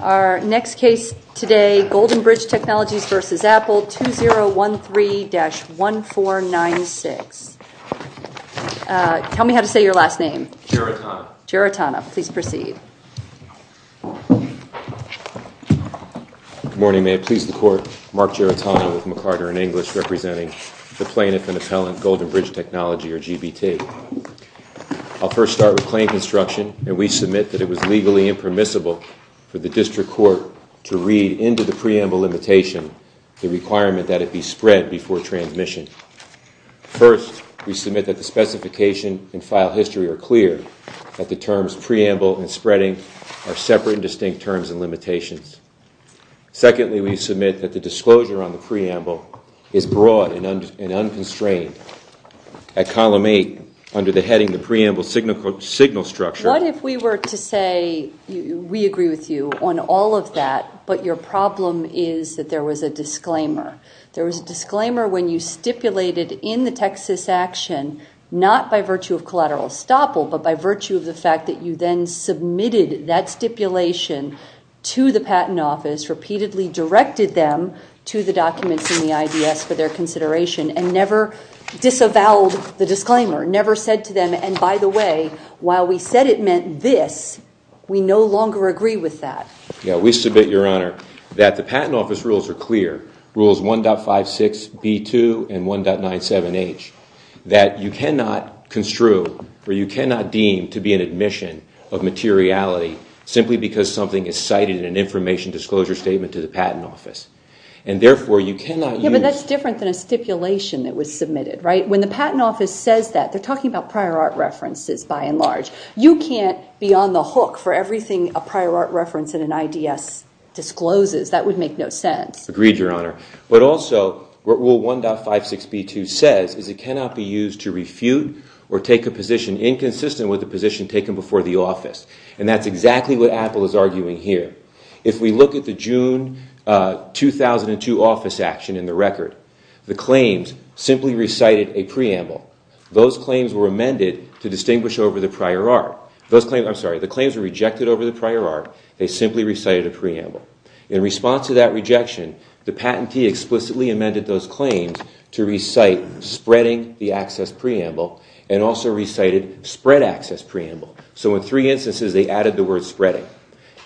Our next case today, Golden Bridge Technologies v. Apple, 2013-1496. Tell me how to say your last name. Gerritana. Gerritana. Please proceed. Good morning. May it please the Court, Mark Gerritana with McCarter & English representing the plaintiff and appellant, Golden Bridge Technology or GBT. I'll first start with claim construction, and we submit that it was legally impermissible for the District Court to read into the preamble limitation the requirement that it be spread before transmission. First, we submit that the specification and file history are clear, that the terms preamble and spreading are separate and distinct terms and limitations. Secondly, we submit that the disclosure on the preamble is broad and unconstrained. Thirdly, at column 8, under the heading of the preamble signal structure- What if we were to say, we agree with you on all of that, but your problem is that there was a disclaimer? There was a disclaimer when you stipulated in the Texas action, not by virtue of collateral estoppel, but by virtue of the fact that you then submitted that stipulation to the Patent Office, repeatedly directed them to the documents in the IDS for their consideration, and never disavowed the disclaimer, never said to them, and by the way, while we said it meant this, we no longer agree with that. Yeah, we submit, Your Honor, that the Patent Office rules are clear, rules 1.56b2 and 1.97h, that you cannot construe or you cannot deem to be an admission of materiality simply because something is cited in an information disclosure statement to the Patent Office, and therefore you cannot use- When the Patent Office says that, they're talking about prior art references by and large. You can't be on the hook for everything a prior art reference in an IDS discloses. That would make no sense. Agreed, Your Honor. But also, what rule 1.56b2 says is it cannot be used to refute or take a position inconsistent with the position taken before the office, and that's exactly what Apple is arguing here. If we look at the June 2002 office action in the record, the claims simply recited a preamble. Those claims were amended to distinguish over the prior art. Those claims- I'm sorry. The claims were rejected over the prior art. They simply recited a preamble. In response to that rejection, the patentee explicitly amended those claims to recite spreading the access preamble, and also recited spread access preamble. So in three instances, they added the word spreading.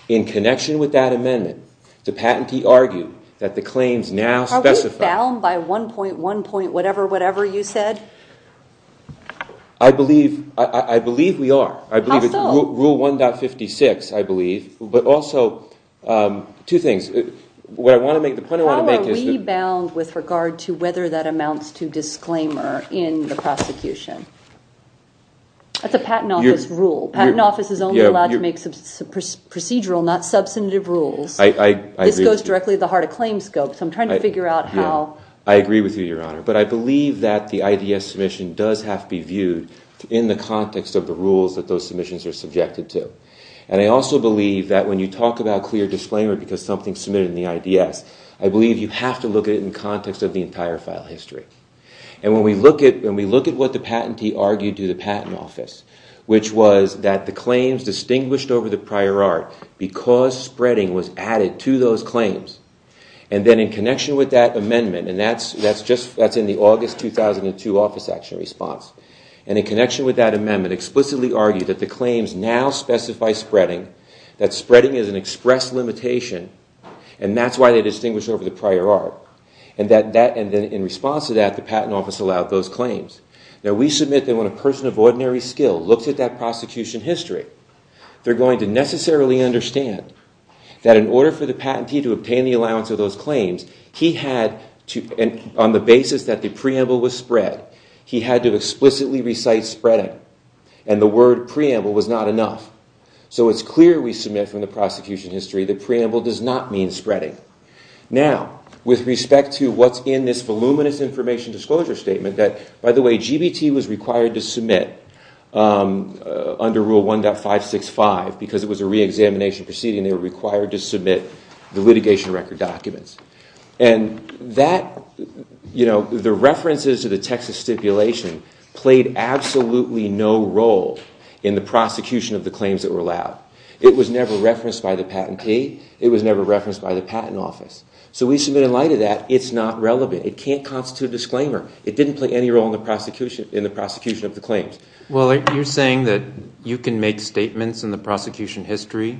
In connection with that amendment, the patentee argued that the claims now specify- Are we bound by 1.1 point whatever whatever you said? I believe we are. I believe it's rule 1.56, I believe. But also, two things. What I want to make, the point I want to make is- How are we bound with regard to whether that amounts to disclaimer in the prosecution? That's a patent office rule. A patent office is only allowed to make procedural, not substantive rules. I agree with you. This goes directly to the heart of claims scope, so I'm trying to figure out how- I agree with you, Your Honor. But I believe that the IDS submission does have to be viewed in the context of the rules that those submissions are subjected to. And I also believe that when you talk about clear disclaimer because something's submitted in the IDS, I believe you have to look at it in context of the entire file history. And when we look at what the patentee argued to the patent office, which was that the claims distinguished over the prior art because spreading was added to those claims, and then in connection with that amendment, and that's in the August 2002 Office Action Response, and in connection with that amendment explicitly argued that the claims now specify spreading, that spreading is an express limitation, and that's why they distinguish over the prior art. And that- and in response to that, the patent office allowed those claims. Now we submit that when a person of ordinary skill looks at that prosecution history, they're going to necessarily understand that in order for the patentee to obtain the allowance of those claims, he had to- on the basis that the preamble was spread, he had to explicitly recite spreading, and the word preamble was not enough. So it's clear we submit from the prosecution history that preamble does not mean spreading. Now, with respect to what's in this voluminous information disclosure statement that- by the way, GBT was required to submit under Rule 1.565 because it was a reexamination proceeding, they were required to submit the litigation record documents. And that- you know, the references to the Texas stipulation played absolutely no role in the prosecution of the claims that were allowed. It was never referenced by the patentee, it was never referenced by the patent office. So we submit in light of that, it's not relevant. It can't constitute a disclaimer. It didn't play any role in the prosecution of the claims. Well, you're saying that you can make statements in the prosecution history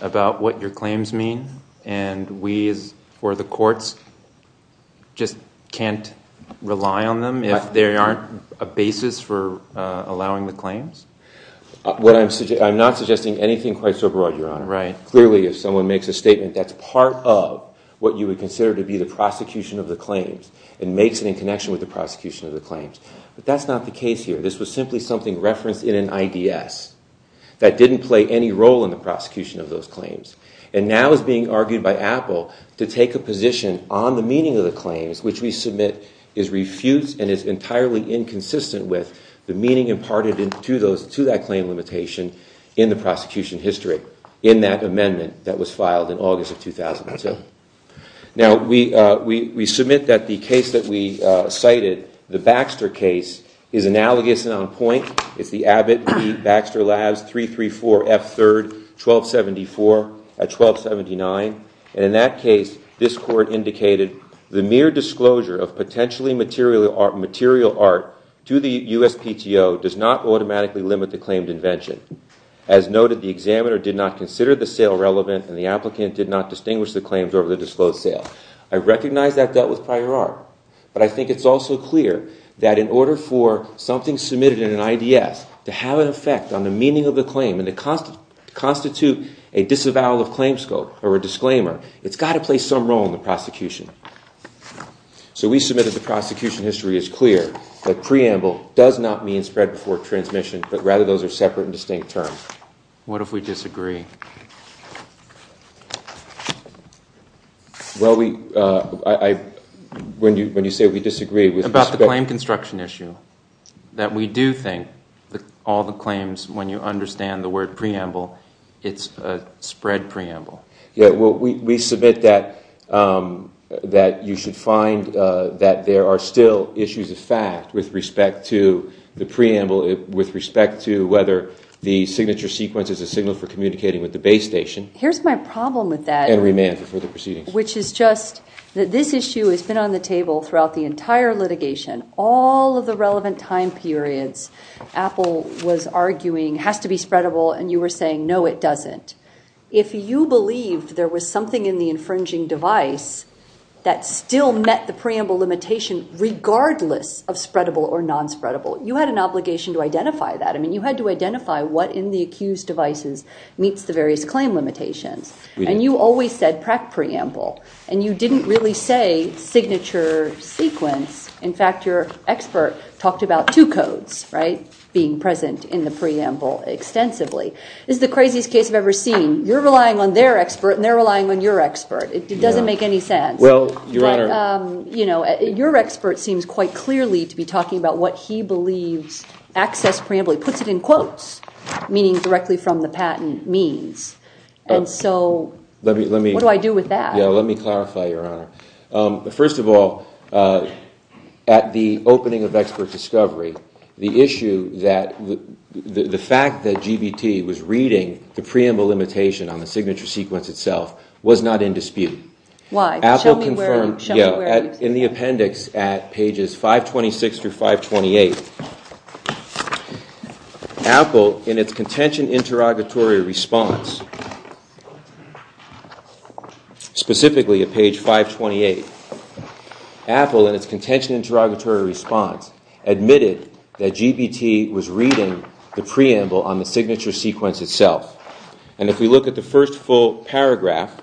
about what your claims mean, and we as- or the courts just can't rely on them if there aren't a basis for allowing the claims? What I'm- I'm not suggesting anything quite so broad, Your Honor. Right. Clearly, if someone makes a statement that's part of what you would consider to be the prosecution of the claims and makes it in connection with the prosecution of the claims. But that's not the case here. This was simply something referenced in an IDS that didn't play any role in the prosecution of those claims. And now is being argued by Apple to take a position on the meaning of the claims, which we submit is refused and is entirely inconsistent with the meaning imparted into those- to that claim limitation in the prosecution history in that amendment that was filed in August of 2002. Now we- we submit that the case that we cited, the Baxter case, is analogous and on point. It's the Abbott v. Baxter Labs 334 F3rd 1274 at 1279. And in that case, this court indicated the mere disclosure of potentially material art- material art to the USPTO does not automatically limit the claimed invention. As noted, the examiner did not consider the sale relevant and the applicant did not distinguish the claims over the disclosed sale. I recognize that dealt with prior art. But I think it's also clear that in order for something submitted in an IDS to have an effect on the meaning of the claim and to constitute a disavowal of claims scope or a disclaimer, it's got to play some role in the prosecution. So we submit that the prosecution history is clear, that preamble does not mean spread before transmission, but rather those are separate and distinct terms. What if we disagree? Well, we- I- when you say we disagree with- About the claim construction issue, that we do think all the claims, when you understand the word preamble, it's a spread preamble. Yeah, well, we submit that you should find that there are still issues of fact with respect to the preamble, with respect to whether the signature sequence is a signal for communicating with the base station. Here's my problem with that- And remand for the proceedings. Which is just that this issue has been on the table throughout the entire litigation. All of the relevant time periods, Apple was arguing has to be spreadable and you were saying no, it doesn't. If you believe there was something in the infringing device that still met the preamble limitation regardless of spreadable or non-spreadable, you had an obligation to identify that. I mean, you had to identify what in the accused devices meets the various claim limitations. And you always said PREC preamble. And you didn't really say signature sequence. In fact, your expert talked about two codes being present in the preamble extensively. This is the craziest case I've ever seen. You're relying on their expert and they're relying on your expert. It doesn't make any sense. Well, Your Honor- Your expert seems quite clearly to be talking about what he believes access preamble. He puts it in quotes, meaning directly from the patent means. And so, what do I do with that? Let me clarify, Your Honor. First of all, at the opening of expert discovery, the issue that the fact that GBT was reading the preamble limitation on the signature sequence itself was not in dispute. Why? Show me where it is. In the appendix at pages 526 through 528, Apple, in its contention interrogatory response, specifically at page 528, Apple, in its contention interrogatory response, admitted that GBT was reading the preamble on the signature sequence itself. And if we look at the first full paragraph,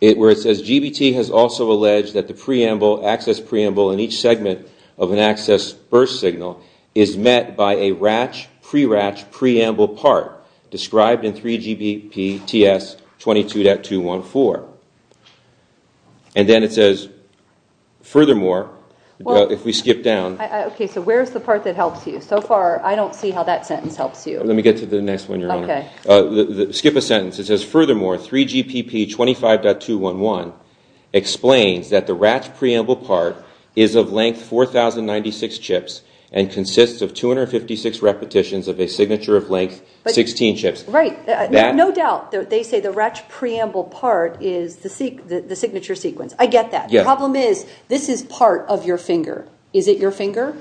where it says, GBT has also alleged that the preamble, access preamble, in each segment of an access burst signal is met by a RATCH pre-RATCH preamble part described in 3GPTS 22.214. And then it says, furthermore, if we skip down- Okay, so where's the part that helps you? So far, I don't see how that sentence helps you. Let me get to the next one, Your Honor. Skip a sentence. It says, furthermore, 3GPP 25.211 explains that the RATCH preamble part is of length 4,096 chips and consists of 256 repetitions of a signature of length 16 chips. Right. No doubt. They say the RATCH preamble part is the signature sequence. I get that. The problem is, this is part of your finger. Is it your finger?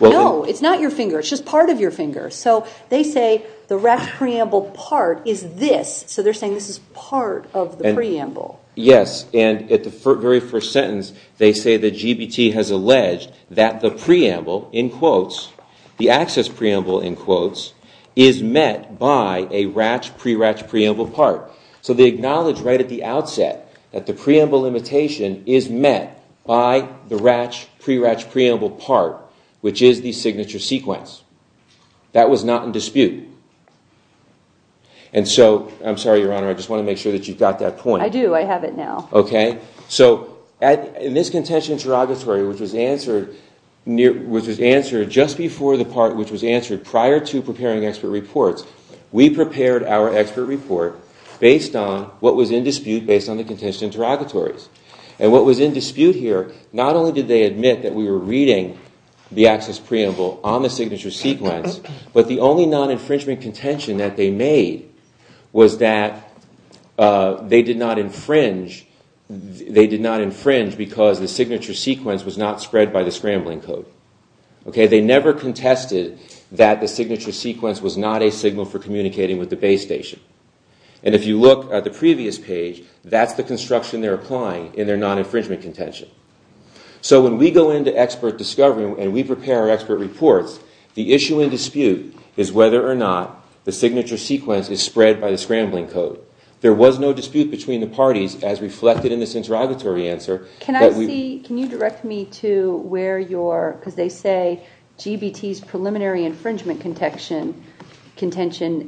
No, it's not your finger. It's just part of your finger. So they say the RATCH preamble part is this. So they're saying this is part of the preamble. Yes. And at the very first sentence, they say that GBT has alleged that the preamble, in quotes, the access preamble, in quotes, is met by a RATCH pre-RATCH preamble part. So they acknowledge right at the outset that the preamble imitation is met by the RATCH pre-RATCH preamble part, which is the signature sequence. That was not in dispute. And so, I'm sorry, Your Honor, I just want to make sure that you've got that point. I do. I have it now. OK. So in this contention interrogatory, which was answered just before the part which was answered prior to preparing expert reports, we prepared our expert report based on what was in dispute based on the contention interrogatories. And what was in dispute here, not only did they admit that we were reading the access preamble on the signature sequence, but the only non-infringement contention that they made was that they did not infringe because the signature sequence was not spread by the scrambling code. They never contested that the signature sequence was not a signal for communicating with the base station. And if you look at the previous page, that's the construction they're applying in their non-infringement contention. So when we go into expert discovery and we prepare our expert reports, the issue in dispute is whether or not the signature sequence is spread by the scrambling code. There was no dispute between the parties as reflected in this interrogatory answer. Can I see, can you direct me to where your, because they say GBT's preliminary infringement contention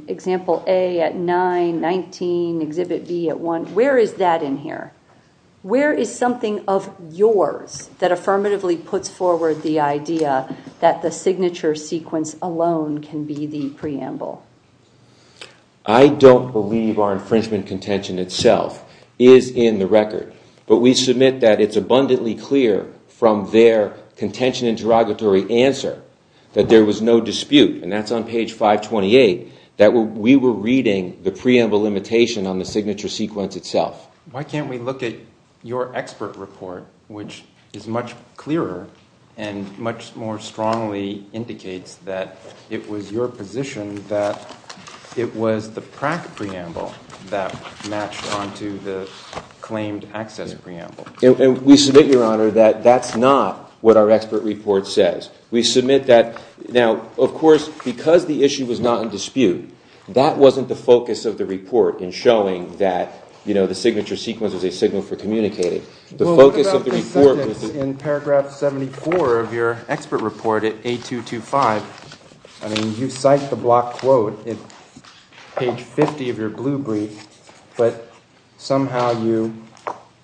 example A at 9, 19, exhibit B at 1, where is that in here? Where is something of yours that affirmatively puts forward the idea that the signature sequence alone can be the preamble? I don't believe our infringement contention itself is in the record, but we submit that it's abundantly clear from their contention interrogatory answer that there was no dispute and that's on page 528, that we were reading the preamble limitation on the signature sequence itself. Why can't we look at your expert report, which is much clearer and much more strongly indicates that it was your position that it was the Pratt preamble that matched onto the claimed access preamble. And we submit, Your Honor, that that's not what our expert report says. We submit that, now, of course, because the issue was not in dispute, that wasn't the focus of the report in showing that, you know, the signature sequence is a signal for communicating. The focus of the report was the- Well, what about the sentence in paragraph 74 of your expert report at A225, I mean, you cite the block quote at page 50 of your blue brief, but somehow you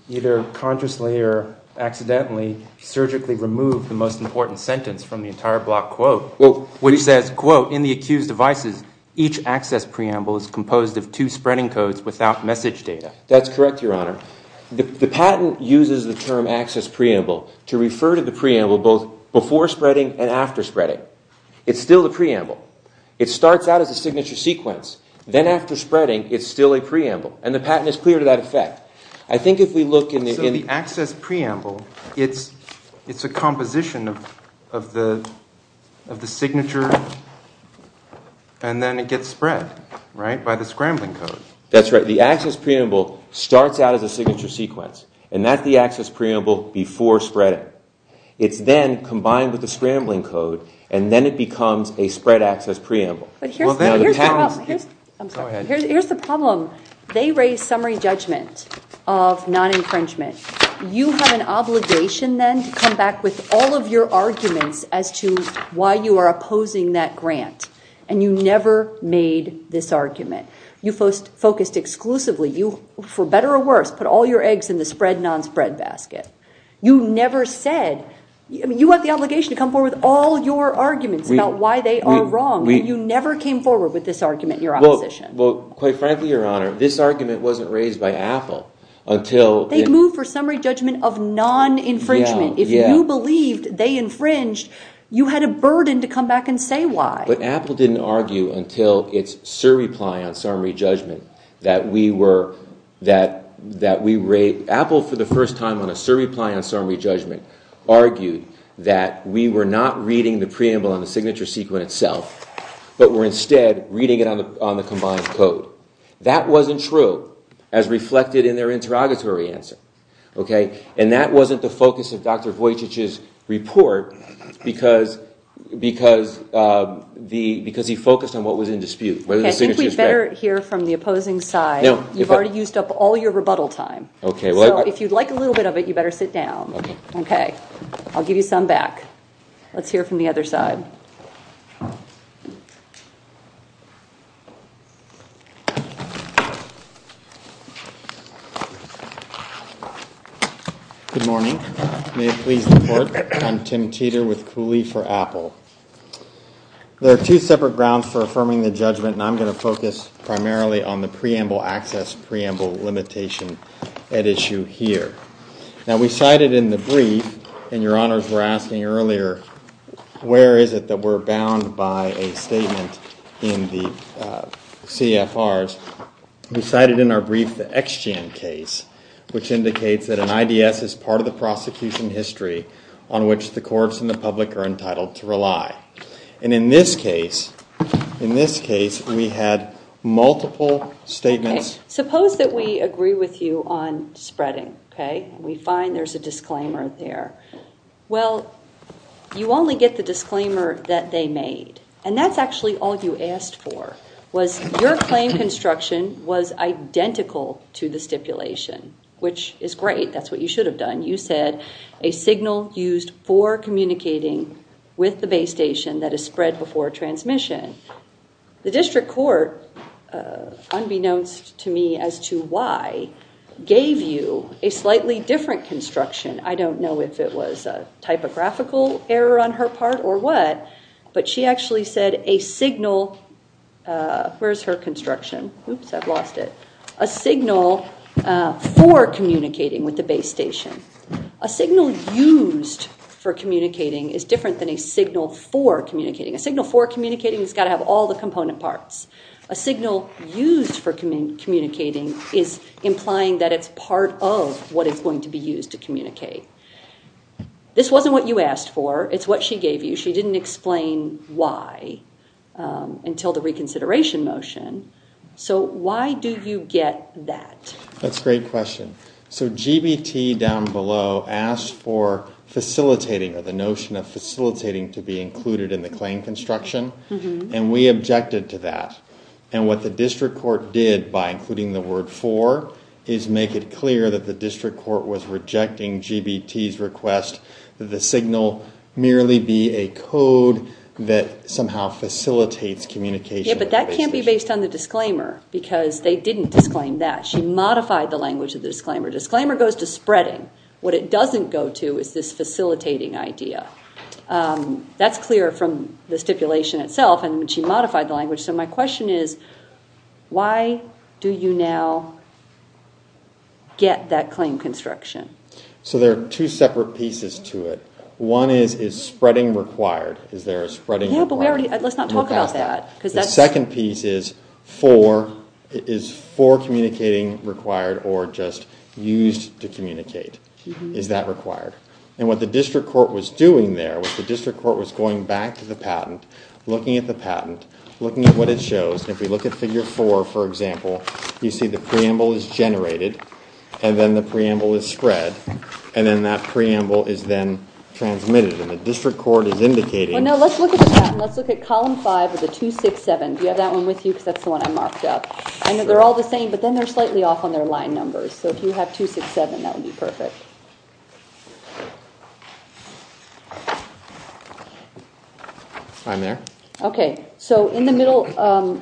either consciously or accidentally, surgically remove the most important sentence from the entire block quote. Well, what he says, quote, in the accused devices, each access preamble is composed of two spreading codes without message data. That's correct, Your Honor. The patent uses the term access preamble to refer to the preamble both before spreading and after spreading. It's still the preamble. It starts out as a signature sequence, then after spreading, it's still a preamble, and the patent is clear to that effect. I think if we look in the- The access preamble, it's a composition of the signature, and then it gets spread, right, by the scrambling code. That's right. The access preamble starts out as a signature sequence, and that's the access preamble before spreading. It's then combined with the scrambling code, and then it becomes a spread access preamble. But here's the problem. I'm sorry. Go ahead. Here's the problem. They raised summary judgment of non-infringement. You have an obligation then to come back with all of your arguments as to why you are opposing that grant, and you never made this argument. You focused exclusively. For better or worse, put all your eggs in the spread, non-spread basket. You never said... I mean, you have the obligation to come forward with all your arguments about why they are wrong, and you never came forward with this argument in your opposition. Well, quite frankly, Your Honor, this argument wasn't raised by Apple until... They moved for summary judgment of non-infringement. If you believed they infringed, you had a burden to come back and say why. But Apple didn't argue until its surreply on summary judgment that we were... Apple for the first time on a surreply on summary judgment argued that we were not reading the That wasn't true as reflected in their interrogatory answer, and that wasn't the focus of Dr. Vujicic's report because he focused on what was in dispute, whether the signature was fair. I think we'd better hear from the opposing side. You've already used up all your rebuttal time. If you'd like a little bit of it, you'd better sit down. I'll give you some back. Let's hear from the other side. Good morning. May it please the Court, I'm Tim Teeter with Cooley for Apple. There are two separate grounds for affirming the judgment, and I'm going to focus primarily on the preamble access preamble limitation at issue here. Now we cited in the brief, and your honors were asking earlier where is it that we're bound by a statement in the CFRs, we cited in our brief the Exgen case, which indicates that an IDS is part of the prosecution history on which the courts and the public are entitled to rely. And in this case, we had multiple statements... We find there's a disclaimer there. Well, you only get the disclaimer that they made, and that's actually all you asked for, was your claim construction was identical to the stipulation, which is great. That's what you should have done. You said a signal used for communicating with the base station that is spread before transmission. The district court, unbeknownst to me as to why, gave you a slightly different construction. I don't know if it was a typographical error on her part or what, but she actually said a signal... Where's her construction? Oops, I've lost it. A signal for communicating with the base station. A signal used for communicating is different than a signal for communicating. A signal for communicating has got to have all the component parts. A signal used for communicating is implying that it's part of what is going to be used to communicate. This wasn't what you asked for. It's what she gave you. She didn't explain why until the reconsideration motion. So why do you get that? That's a great question. So GBT down below asked for facilitating or the notion of facilitating to be included in the claim construction, and we objected to that. And what the district court did by including the word for is make it clear that the district court was rejecting GBT's request that the signal merely be a code that somehow facilitates communication with the base station. Yeah, but that can't be based on the disclaimer because they didn't disclaim that. She modified the language of the disclaimer. Disclaimer goes to spreading. What it doesn't go to is this facilitating idea. That's clear from the stipulation itself and when she modified the language. So my question is, why do you now get that claim construction? So there are two separate pieces to it. One is, is spreading required? Is there a spreading requirement? Yeah, but let's not talk about that. The second piece is, is for communicating required or just used to communicate? Is that required? And what the district court was doing there was the district court was going back to the patent, looking at the patent, looking at what it shows. If you look at figure four, for example, you see the preamble is generated and then the preamble is spread and then that preamble is then transmitted and the district court is indicating. Well, no, let's look at the patent. Let's look at column five of the 267. Do you have that one with you because that's the one I marked up? I know they're all the same, but then they're slightly off on their line numbers. So if you have 267, that would be perfect. I'm there. Okay. So in the middle,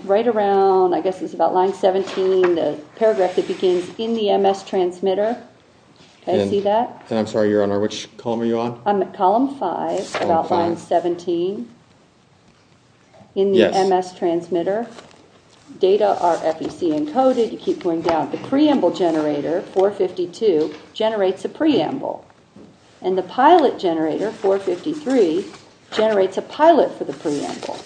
right around, I guess it's about line 17, the paragraph that begins, in the MS transmitter, can I see that? And I'm sorry, your honor, which column are you on? I'm at column five, about line 17, in the MS transmitter. Data are FEC encoded. You keep going down. The preamble generator, 452, generates a preamble. And the pilot generator, 453, generates a pilot for the preamble.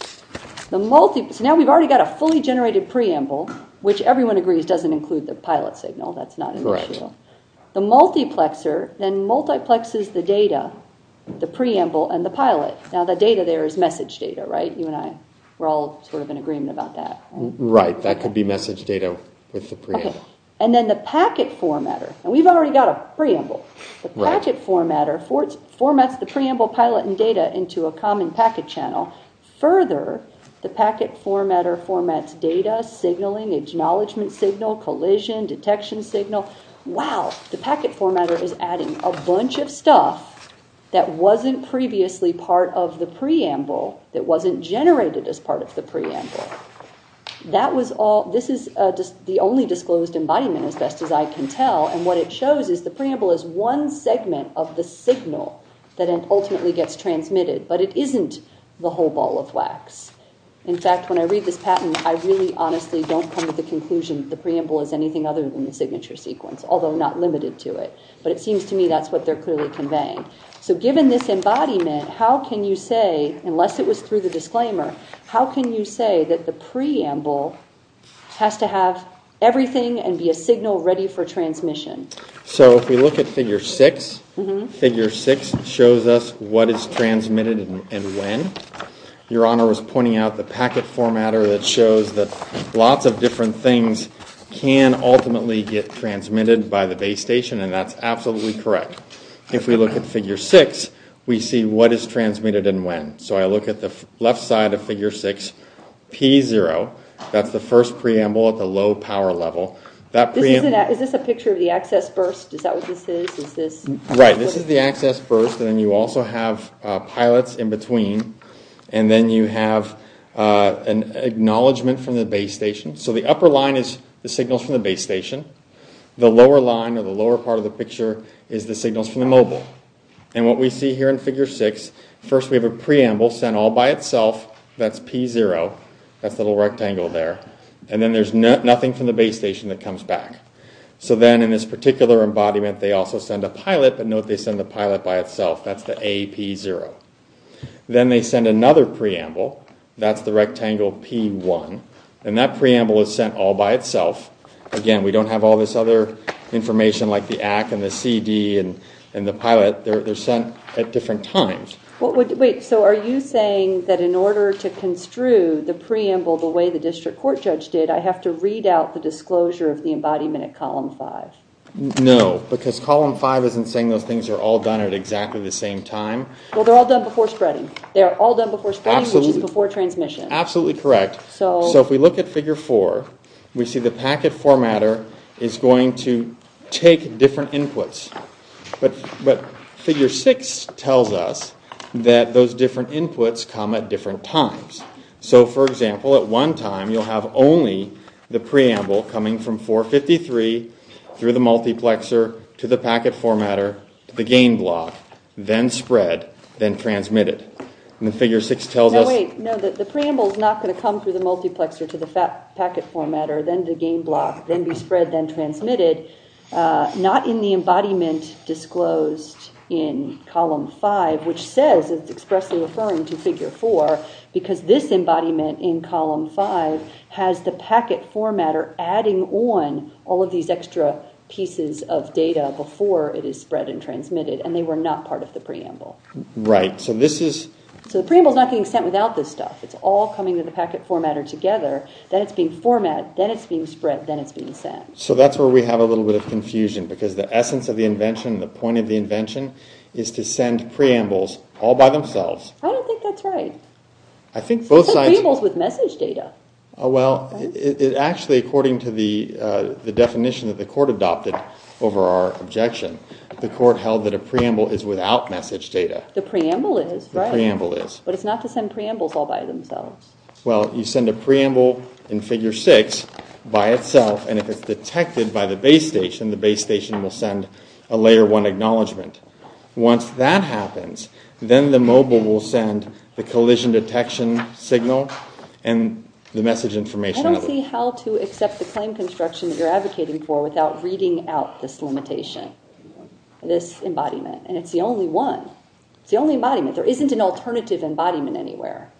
Now we've already got a fully generated preamble, which everyone agrees doesn't include the pilot signal. That's not an issue. The multiplexer then multiplexes the data, the preamble and the pilot. Now the data there is message data, right? You and I, we're all sort of in agreement about that. Right. That could be message data with the preamble. Okay. And then the packet formatter, and we've already got a preamble. The packet formatter formats the preamble pilot and data into a common packet channel. Further, the packet formatter formats data, signaling, acknowledgement signal, collision, detection signal. Wow. The packet formatter is adding a bunch of stuff that wasn't previously part of the preamble that wasn't generated as part of the preamble. This is the only disclosed embodiment as best as I can tell, and what it shows is the preamble is one segment of the signal that ultimately gets transmitted, but it isn't the whole ball of wax. In fact, when I read this patent, I really honestly don't come to the conclusion that the preamble is anything other than the signature sequence, although not limited to it. But it seems to me that's what they're clearly conveying. So given this embodiment, how can you say, unless it was through the disclaimer, how can you say that the preamble has to have everything and be a signal ready for transmission? So if we look at figure six, figure six shows us what is transmitted and when. Your Honor was pointing out the packet formatter that shows that lots of different things can ultimately get transmitted by the base station, and that's absolutely correct. If we look at figure six, we see what is transmitted and when. So I look at the left side of figure six, P0, that's the first preamble at the low power level. Is this a picture of the access burst? Is that what this is? Right, this is the access burst, and then you also have pilots in between, and then you have an acknowledgment from the base station. The upper line is the signals from the base station. The lower line or the lower part of the picture is the signals from the mobile. And what we see here in figure six, first we have a preamble sent all by itself, that's P0, that's the little rectangle there. And then there's nothing from the base station that comes back. So then in this particular embodiment, they also send a pilot, but note they send the pilot by itself, that's the AP0. Then they send another preamble, that's the rectangle P1, and that preamble is sent all by itself. Again, we don't have all this other information like the ACK and the CD and the pilot, they're sent at different times. Wait, so are you saying that in order to construe the preamble the way the district court judge did, I have to read out the disclosure of the embodiment at column five? No, because column five isn't saying those things are all done at exactly the same time. Well, they're all done before spreading. They're all done before spreading, which is before transmission. Absolutely correct. So if we look at figure four, we see the packet formatter is going to take different inputs. But figure six tells us that those different inputs come at different times. So for example, at one time you'll have only the preamble coming from 453 through the multiplexer to the packet formatter, the gain block, then spread, then transmitted. No, the preamble is not going to come through the multiplexer to the packet formatter, then the gain block, then be spread, then transmitted. Not in the embodiment disclosed in column five, which says, it's expressly referring to figure four, because this embodiment in column five has the packet formatter adding on all of these extra pieces of data before it is spread and transmitted, and they were not part of the preamble. Right. So this is... So the preamble is not being sent without this stuff. It's all coming to the packet formatter together, then it's being format, then it's being spread, then it's being sent. So that's where we have a little bit of confusion, because the essence of the invention, the point of the invention, is to send preambles all by themselves. I don't think that's right. I think both sides... It's the preambles with message data. Well, it actually, according to the definition that the court adopted over our objection, the court held that a preamble is without message data. The preamble is, right. The preamble is. But it's not to send preambles all by themselves. Well, you send a preamble in figure six by itself, and if it's detected by the base station, the base station will send a layer one acknowledgement. Once that happens, then the mobile will send the collision detection signal and the message information. I don't see how to accept the claim construction that you're advocating for without reading out this limitation, this embodiment. And it's the only one. It's the only embodiment. There isn't an alternative embodiment anywhere,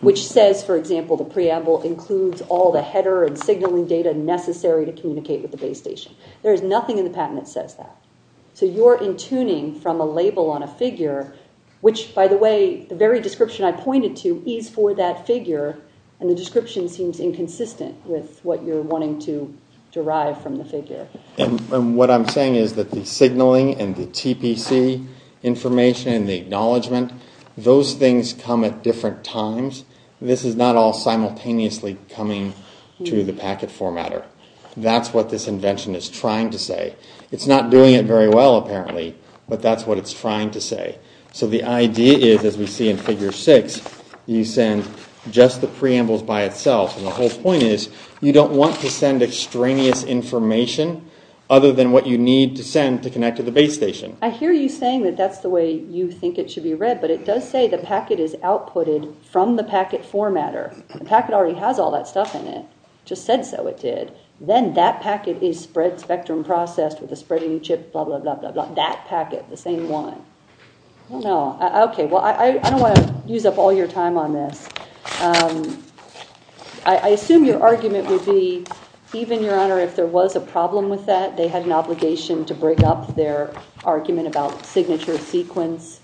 which says, for example, the preamble includes all the header and signaling data necessary to communicate with the base station. There is nothing in the patent that says that. So you're in tuning from a label on a figure, which, by the way, the very description I pointed to is for that figure, and the description seems inconsistent with what you're wanting to derive from the figure. And what I'm saying is that the signaling and the TPC information and the acknowledgement, those things come at different times. This is not all simultaneously coming to the packet formatter. That's what this invention is trying to say. It's not doing it very well, apparently, but that's what it's trying to say. So the idea is, as we see in figure six, you send just the preambles by itself. And the whole point is, you don't want to send extraneous information other than what you need to send to connect to the base station. I hear you saying that that's the way you think it should be read, but it does say the packet is outputted from the packet formatter. The packet already has all that stuff in it. It just said so it did. Then that packet is spread spectrum processed with a spreading chip, blah, blah, blah, blah, that packet, the same one. I don't want to use up all your time on this. I assume your argument would be, even, Your Honor, if there was a problem with that, they had an obligation to break up their argument about signature sequence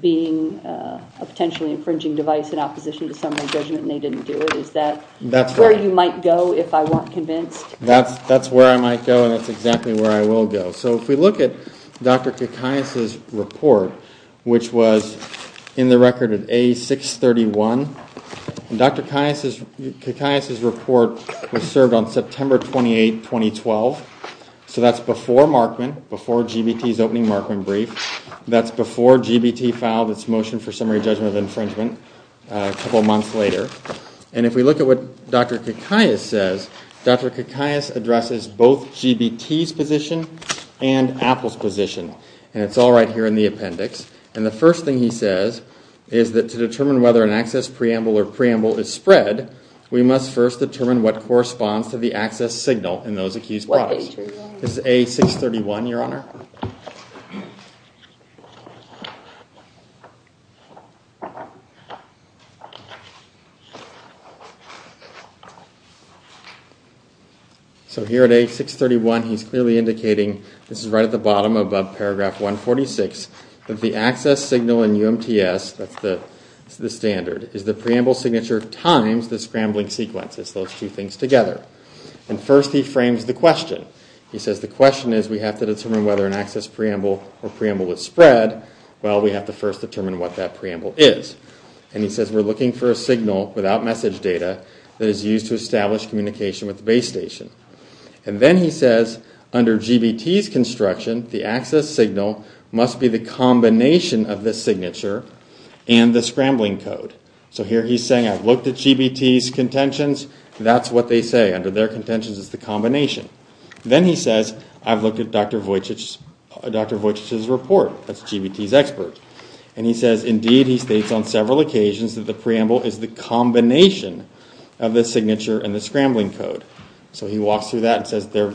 being a potentially infringing device in opposition to summary judgment and they didn't do it. Is that where you might go if I weren't convinced? That's where I might go and that's exactly where I will go. So if we look at Dr. Kikias' report, which was in the record at A631, Dr. Kikias' report was served on September 28, 2012. So that's before Markman, before GBT's opening Markman brief. That's before GBT filed its motion for summary judgment of infringement a couple months later. And if we look at what Dr. Kikias says, Dr. Kikias addresses both GBT's position and Apple's position and it's all right here in the appendix. And the first thing he says is that to determine whether an access preamble or preamble is spread, we must first determine what corresponds to the access signal in those accused products. This is A631, Your Honor. So here at A631, he's clearly indicating, this is right at the bottom of Paragraph 146, that the access signal in UMTS, that's the standard, is the preamble signature times the scrambling sequence. It's those two things together. And first he frames the question. He says the question is we have to determine whether an access preamble or preamble is spread. Well, we have to first determine what that preamble is. And he says we're looking for a signal without message data that is used to establish communication with the base station. And then he says under GBT's construction, the access signal must be the combination of the signature and the scrambling code. So here he's saying I've looked at GBT's contentions. That's what they say. Under their contentions is the combination. Then he says I've looked at Dr. Wojcic's report. That's GBT's expert. And he says indeed he states on several occasions that the preamble is the combination of the signature and the scrambling code. So he walks through that and says they're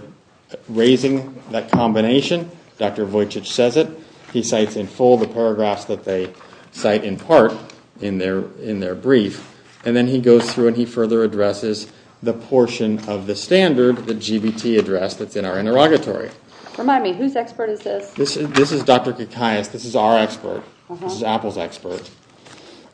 raising that combination. Dr. Wojcic says it. He cites in full the paragraphs that they cite in part in their brief. And then he goes through and he further addresses the portion of the standard, the GBT address, that's in our interrogatory. Remind me, whose expert is this? This is Dr. Kikias. This is our expert. This is Apple's expert.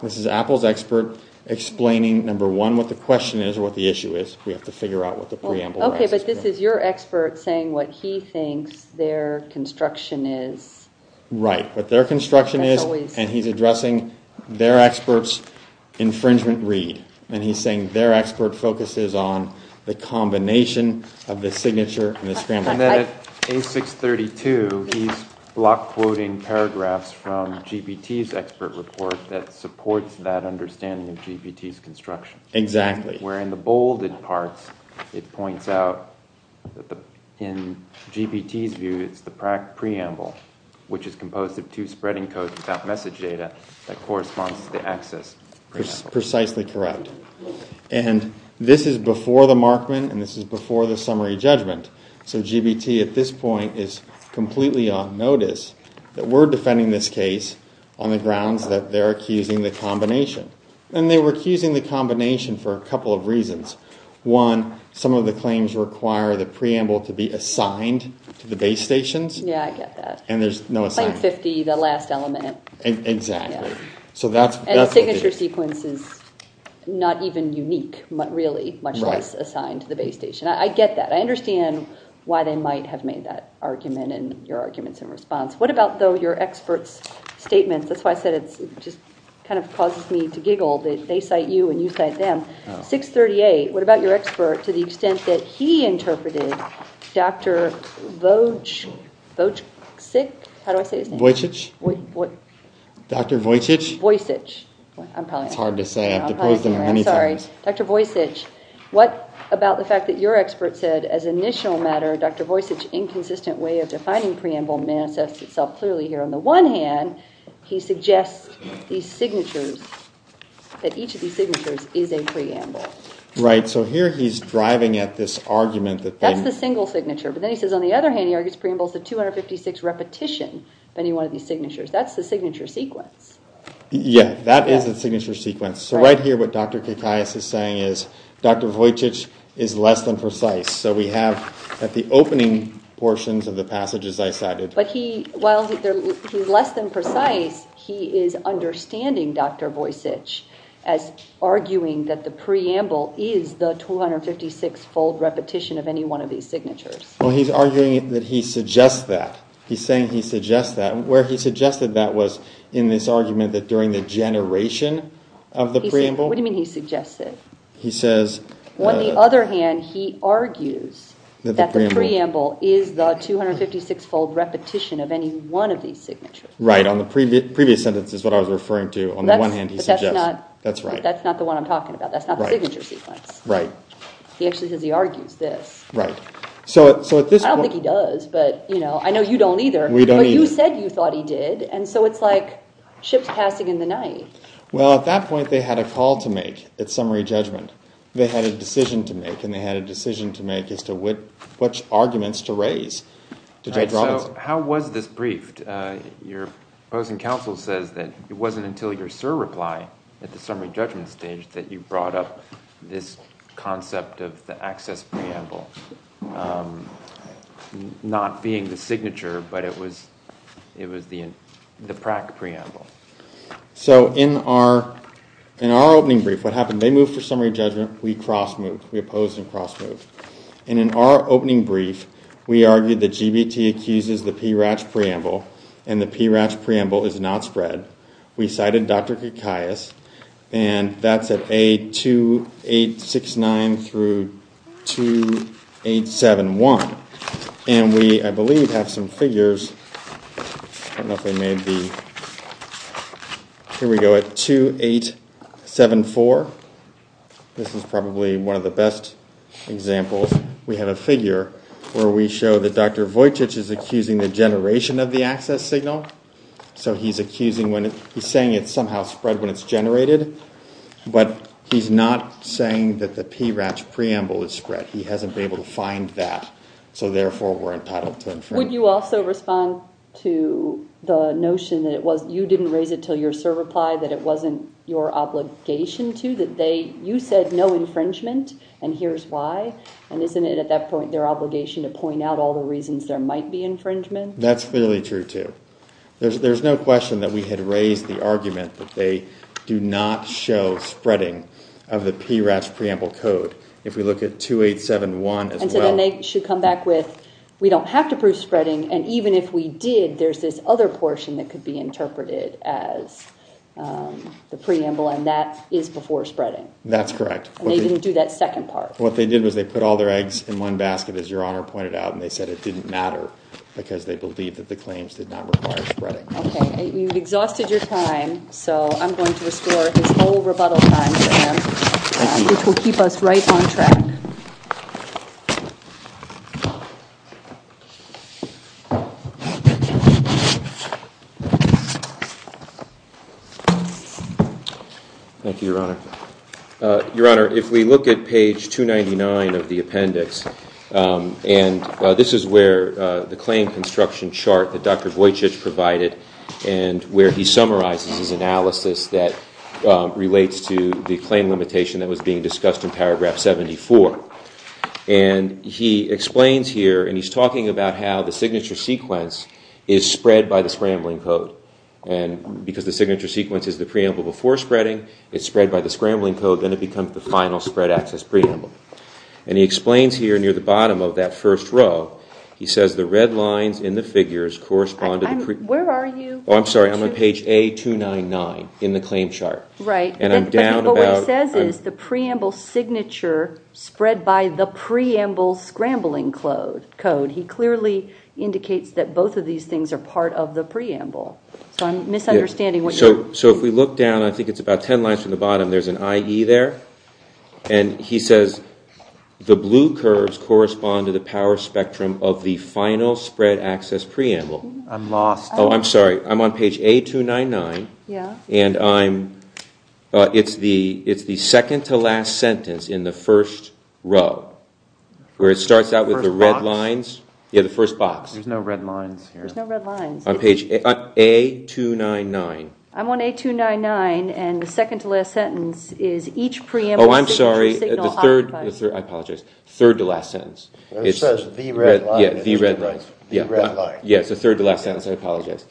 This is Apple's expert explaining, number one, what the question is or what the issue is. We have to figure out what the preamble is. Okay, but this is your expert saying what he thinks their construction is. Right. What their construction is and he's addressing their expert's infringement read. And he's saying their expert focuses on the combination of the signature and the scrambling. And then at page 632, he's block quoting paragraphs from GBT's expert report that supports that understanding of GBT's construction. Exactly. Where in the bolded parts, it points out that in GBT's view, it's the preamble, which is composed of two spreading codes without message data, that corresponds to the access preamble. Precisely correct. And this is before the Markman and this is before the summary judgment. So GBT at this point is completely on notice that we're defending this case on the grounds that they're accusing the combination. And they were accusing the combination for a couple of reasons. One, some of the claims require the preamble to be assigned to the base stations. Yeah, I get that. And there's no assignment. Like 50, the last element. Exactly. And the signature sequence is not even unique, really, much less assigned to the base station. I get that. I understand why they might have made that argument and your arguments in response. What about, though, your expert's statements? That's why I said it just kind of causes me to giggle that they cite you and you cite them. 638, what about your expert to the extent that he interpreted Dr. Wojcic? How do I say his name? Wojcic? What? Dr. Wojcic? Wojcic. It's hard to say. I have to praise them many times. I'm sorry. Dr. Wojcic. Dr. Wojcic. What about the fact that your expert said, as an initial matter, Dr. Wojcic's inconsistent way of defining preamble manifests itself clearly here. On the one hand, he suggests these signatures, that each of these signatures is a preamble. Right, so here he's driving at this argument that they- That's the single signature. But then he says on the other hand, he argues preamble is the 256 repetition of any one of these signatures. That's the signature sequence. Yeah, that is the signature sequence. So right here what Dr. Kikais is saying is, Dr. Wojcic is less than precise. So we have at the opening portions of the passages I cited- But he, while he's less than precise, he is understanding Dr. Wojcic as arguing that the preamble is the 256-fold repetition of any one of these signatures. Well, he's arguing that he suggests that. He's saying he suggests that. Where he suggested that was in this argument that during the generation of the preamble- What do you mean he suggests it? He says- On the other hand, he argues that the preamble is the 256-fold repetition of any one of these signatures. Right, on the previous sentence is what I was referring to. On the one hand, he suggests- But that's not- That's right. That's not the one I'm talking about. That's not the signature sequence. Right. He actually says he argues this. Right. So at this point- I don't think he does, but I know you don't either. We don't either. But you said you thought he did, and so it's like ships passing in the night. Well, at that point, they had a call to make. It's summary judgment. They had a decision to make, and they had a decision to make as to which arguments to raise. So how was this briefed? Your opposing counsel says that it wasn't until your surreply at the summary judgment but it was the PRAC preamble. So in our opening brief, what happened? They moved for summary judgment. We cross-moved. We opposed and cross-moved. And in our opening brief, we argued that GBT accuses the PRAC preamble, and the PRAC preamble is not spread. We cited Dr. Kikaias, and that's at A2869-2871. And we, I believe, have some figures. I don't know if I made the... Here we go at A2874. This is probably one of the best examples. We have a figure where we show that Dr. Vojtich is accusing the generation of the access signal. So he's accusing when... He's saying it's somehow spread when it's generated, but he's not saying that the PRAC preamble is spread. He hasn't been able to find that. So therefore, we're entitled to infringe. Would you also respond to the notion that it was... You didn't raise it till your serve reply, that it wasn't your obligation to, that they... You said no infringement, and here's why. And isn't it at that point their obligation to point out all the reasons there might be infringement? That's clearly true, too. There's no question that we had raised the argument that they do not show spreading of the PRAC preamble code. If we look at 2871 as well... And so then they should come back with, we don't have to prove spreading, and even if we did, there's this other portion that could be interpreted as the preamble, and that is before spreading. That's correct. And they didn't do that second part. What they did was they put all their eggs in one basket, as Your Honor pointed out, and they said it didn't matter because they believed that the claims did not require spreading. Okay, you've exhausted your time, so I'm going to restore this whole rebuttal time for them, which will keep us right on track. Thank you, Your Honor. Your Honor, if we look at page 299 of the appendix, and this is where the claim construction chart that Dr. Vujicic provided, and where he summarizes his analysis that relates to the claim limitation that was being discussed in paragraph 74, and he explains here, and he's talking about how the signature sequence is spread by the scrambling code. And because the signature sequence is the preamble before spreading, it's spread by the scrambling code, then it becomes the final spread access preamble. And he explains here near the bottom of that first row, he says the red lines in the figures correspond to the... Where are you? Oh, I'm sorry, I'm on page A299 in the claim chart. Right. And I'm down about... But what he says is the preamble signature spread by the preamble scrambling code. He clearly indicates that both of these things are part of the preamble. So I'm misunderstanding what you're... So if we look down, I think it's about 10 lines from the bottom, there's an IE there, and he says the blue curves correspond to the power spectrum of the final spread access preamble. I'm lost. Oh, I'm sorry. I'm on page A299. Yeah. And I'm... It's the second-to-last sentence in the first row, where it starts out with the red lines. Yeah, the first box. There's no red lines here. There's no red lines. On page A299. I'm on A299, and the second-to-last sentence is each preamble signature signal... Oh, I'm sorry. The third... I apologize. Third-to-last sentence. It says the red lines. Yeah, the red lines. The red lines. Yeah, it's the third-to-last sentence. I apologize.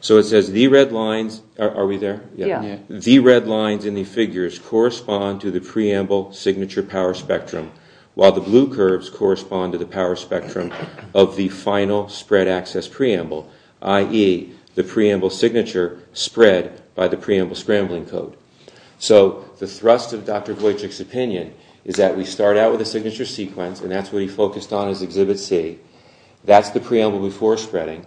So it says the red lines... Are we there? Yeah. The red lines in the figures correspond to the preamble signature power spectrum, while the blue curves correspond to the power spectrum of the final spread access preamble, i.e., the preamble signature spread by the preamble scrambling code. So the thrust of Dr. Wojcik's opinion is that we start out with a signature sequence, and that's what he focused on in his Exhibit C. That's the preamble before spreading.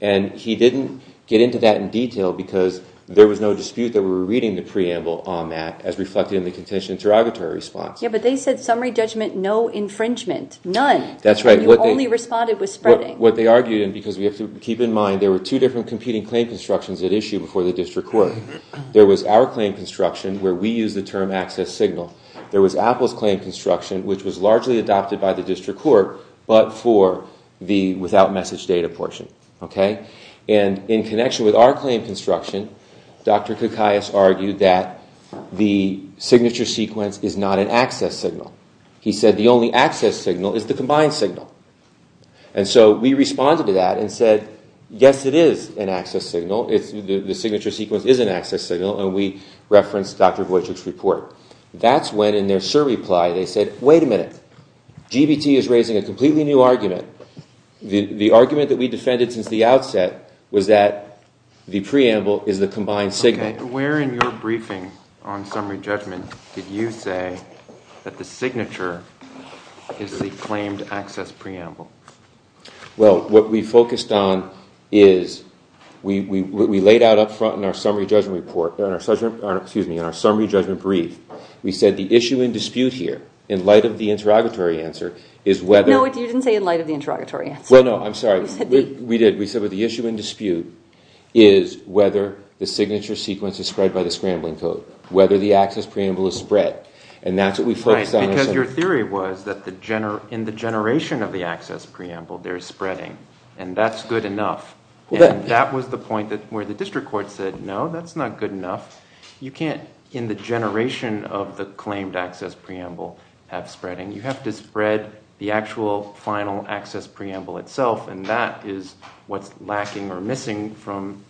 And he didn't get into that in detail, because there was no dispute that we were reading the preamble on that as reflected in the contention interrogatory response. Yeah, but they said summary judgment, no infringement. None. That's right. You only responded with spreading. What they argued, and because we have to keep in mind, there were two different competing claim constructions at issue before the district court. There was our claim construction, where we used the term access signal. There was Apple's claim construction, which was largely adopted by the district court, but for the without message data portion. And in connection with our claim construction, Dr. Koukayas argued that the signature sequence is not an access signal. He said the only access signal is the combined signal. And so we responded to that and said, yes, it is an access signal. The signature sequence is an access signal, and we referenced Dr. Wojcik's report. That's when, in their SIR reply, they said, wait a minute, GBT is raising a completely new argument. The argument that we defended since the outset was that the preamble is the combined signal. Okay, where in your briefing on summary judgment did you say that the signature is the claimed access preamble? Well, what we focused on is, we laid out up front in our summary judgment report, excuse me, in our summary judgment brief, we said the issue in dispute here, in light of the interrogatory answer, No, you didn't say in light of the interrogatory answer. Well, no, I'm sorry, we did. We said the issue in dispute is whether the signature sequence is spread by the scrambling code, whether the access preamble is spread. And that's what we focused on. Right, because your theory was that in the generation of the access preamble, there is spreading, and that's good enough. And that was the point where the district court said, no, that's not good enough. You can't, in the generation of the claimed access preamble, have spreading. You have to spread the actual final access preamble itself, and that is what's lacking or missing from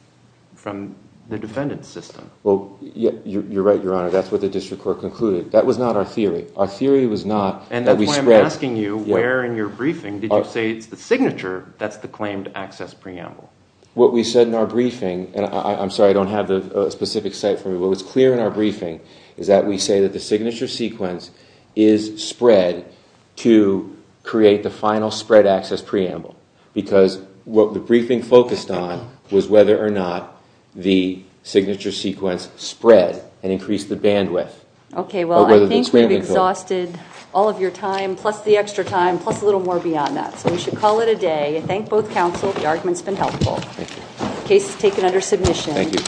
the defendant's system. Well, you're right, Your Honor, that's what the district court concluded. That was not our theory. Our theory was not that we spread. And that's why I'm asking you, where in your briefing did you say it's the signature that's the claimed access preamble? What we said in our briefing, and I'm sorry, I don't have the specific site for you, but what's clear in our briefing is that we say that the signature sequence is spread to create the final spread access preamble. Because what the briefing focused on was whether or not the signature sequence spread and increased the bandwidth. Okay, well, I think we've exhausted all of your time, plus the extra time, plus a little more beyond that. So we should call it a day. I thank both counsel. The argument's been helpful. Case is taken under submission. Thank you.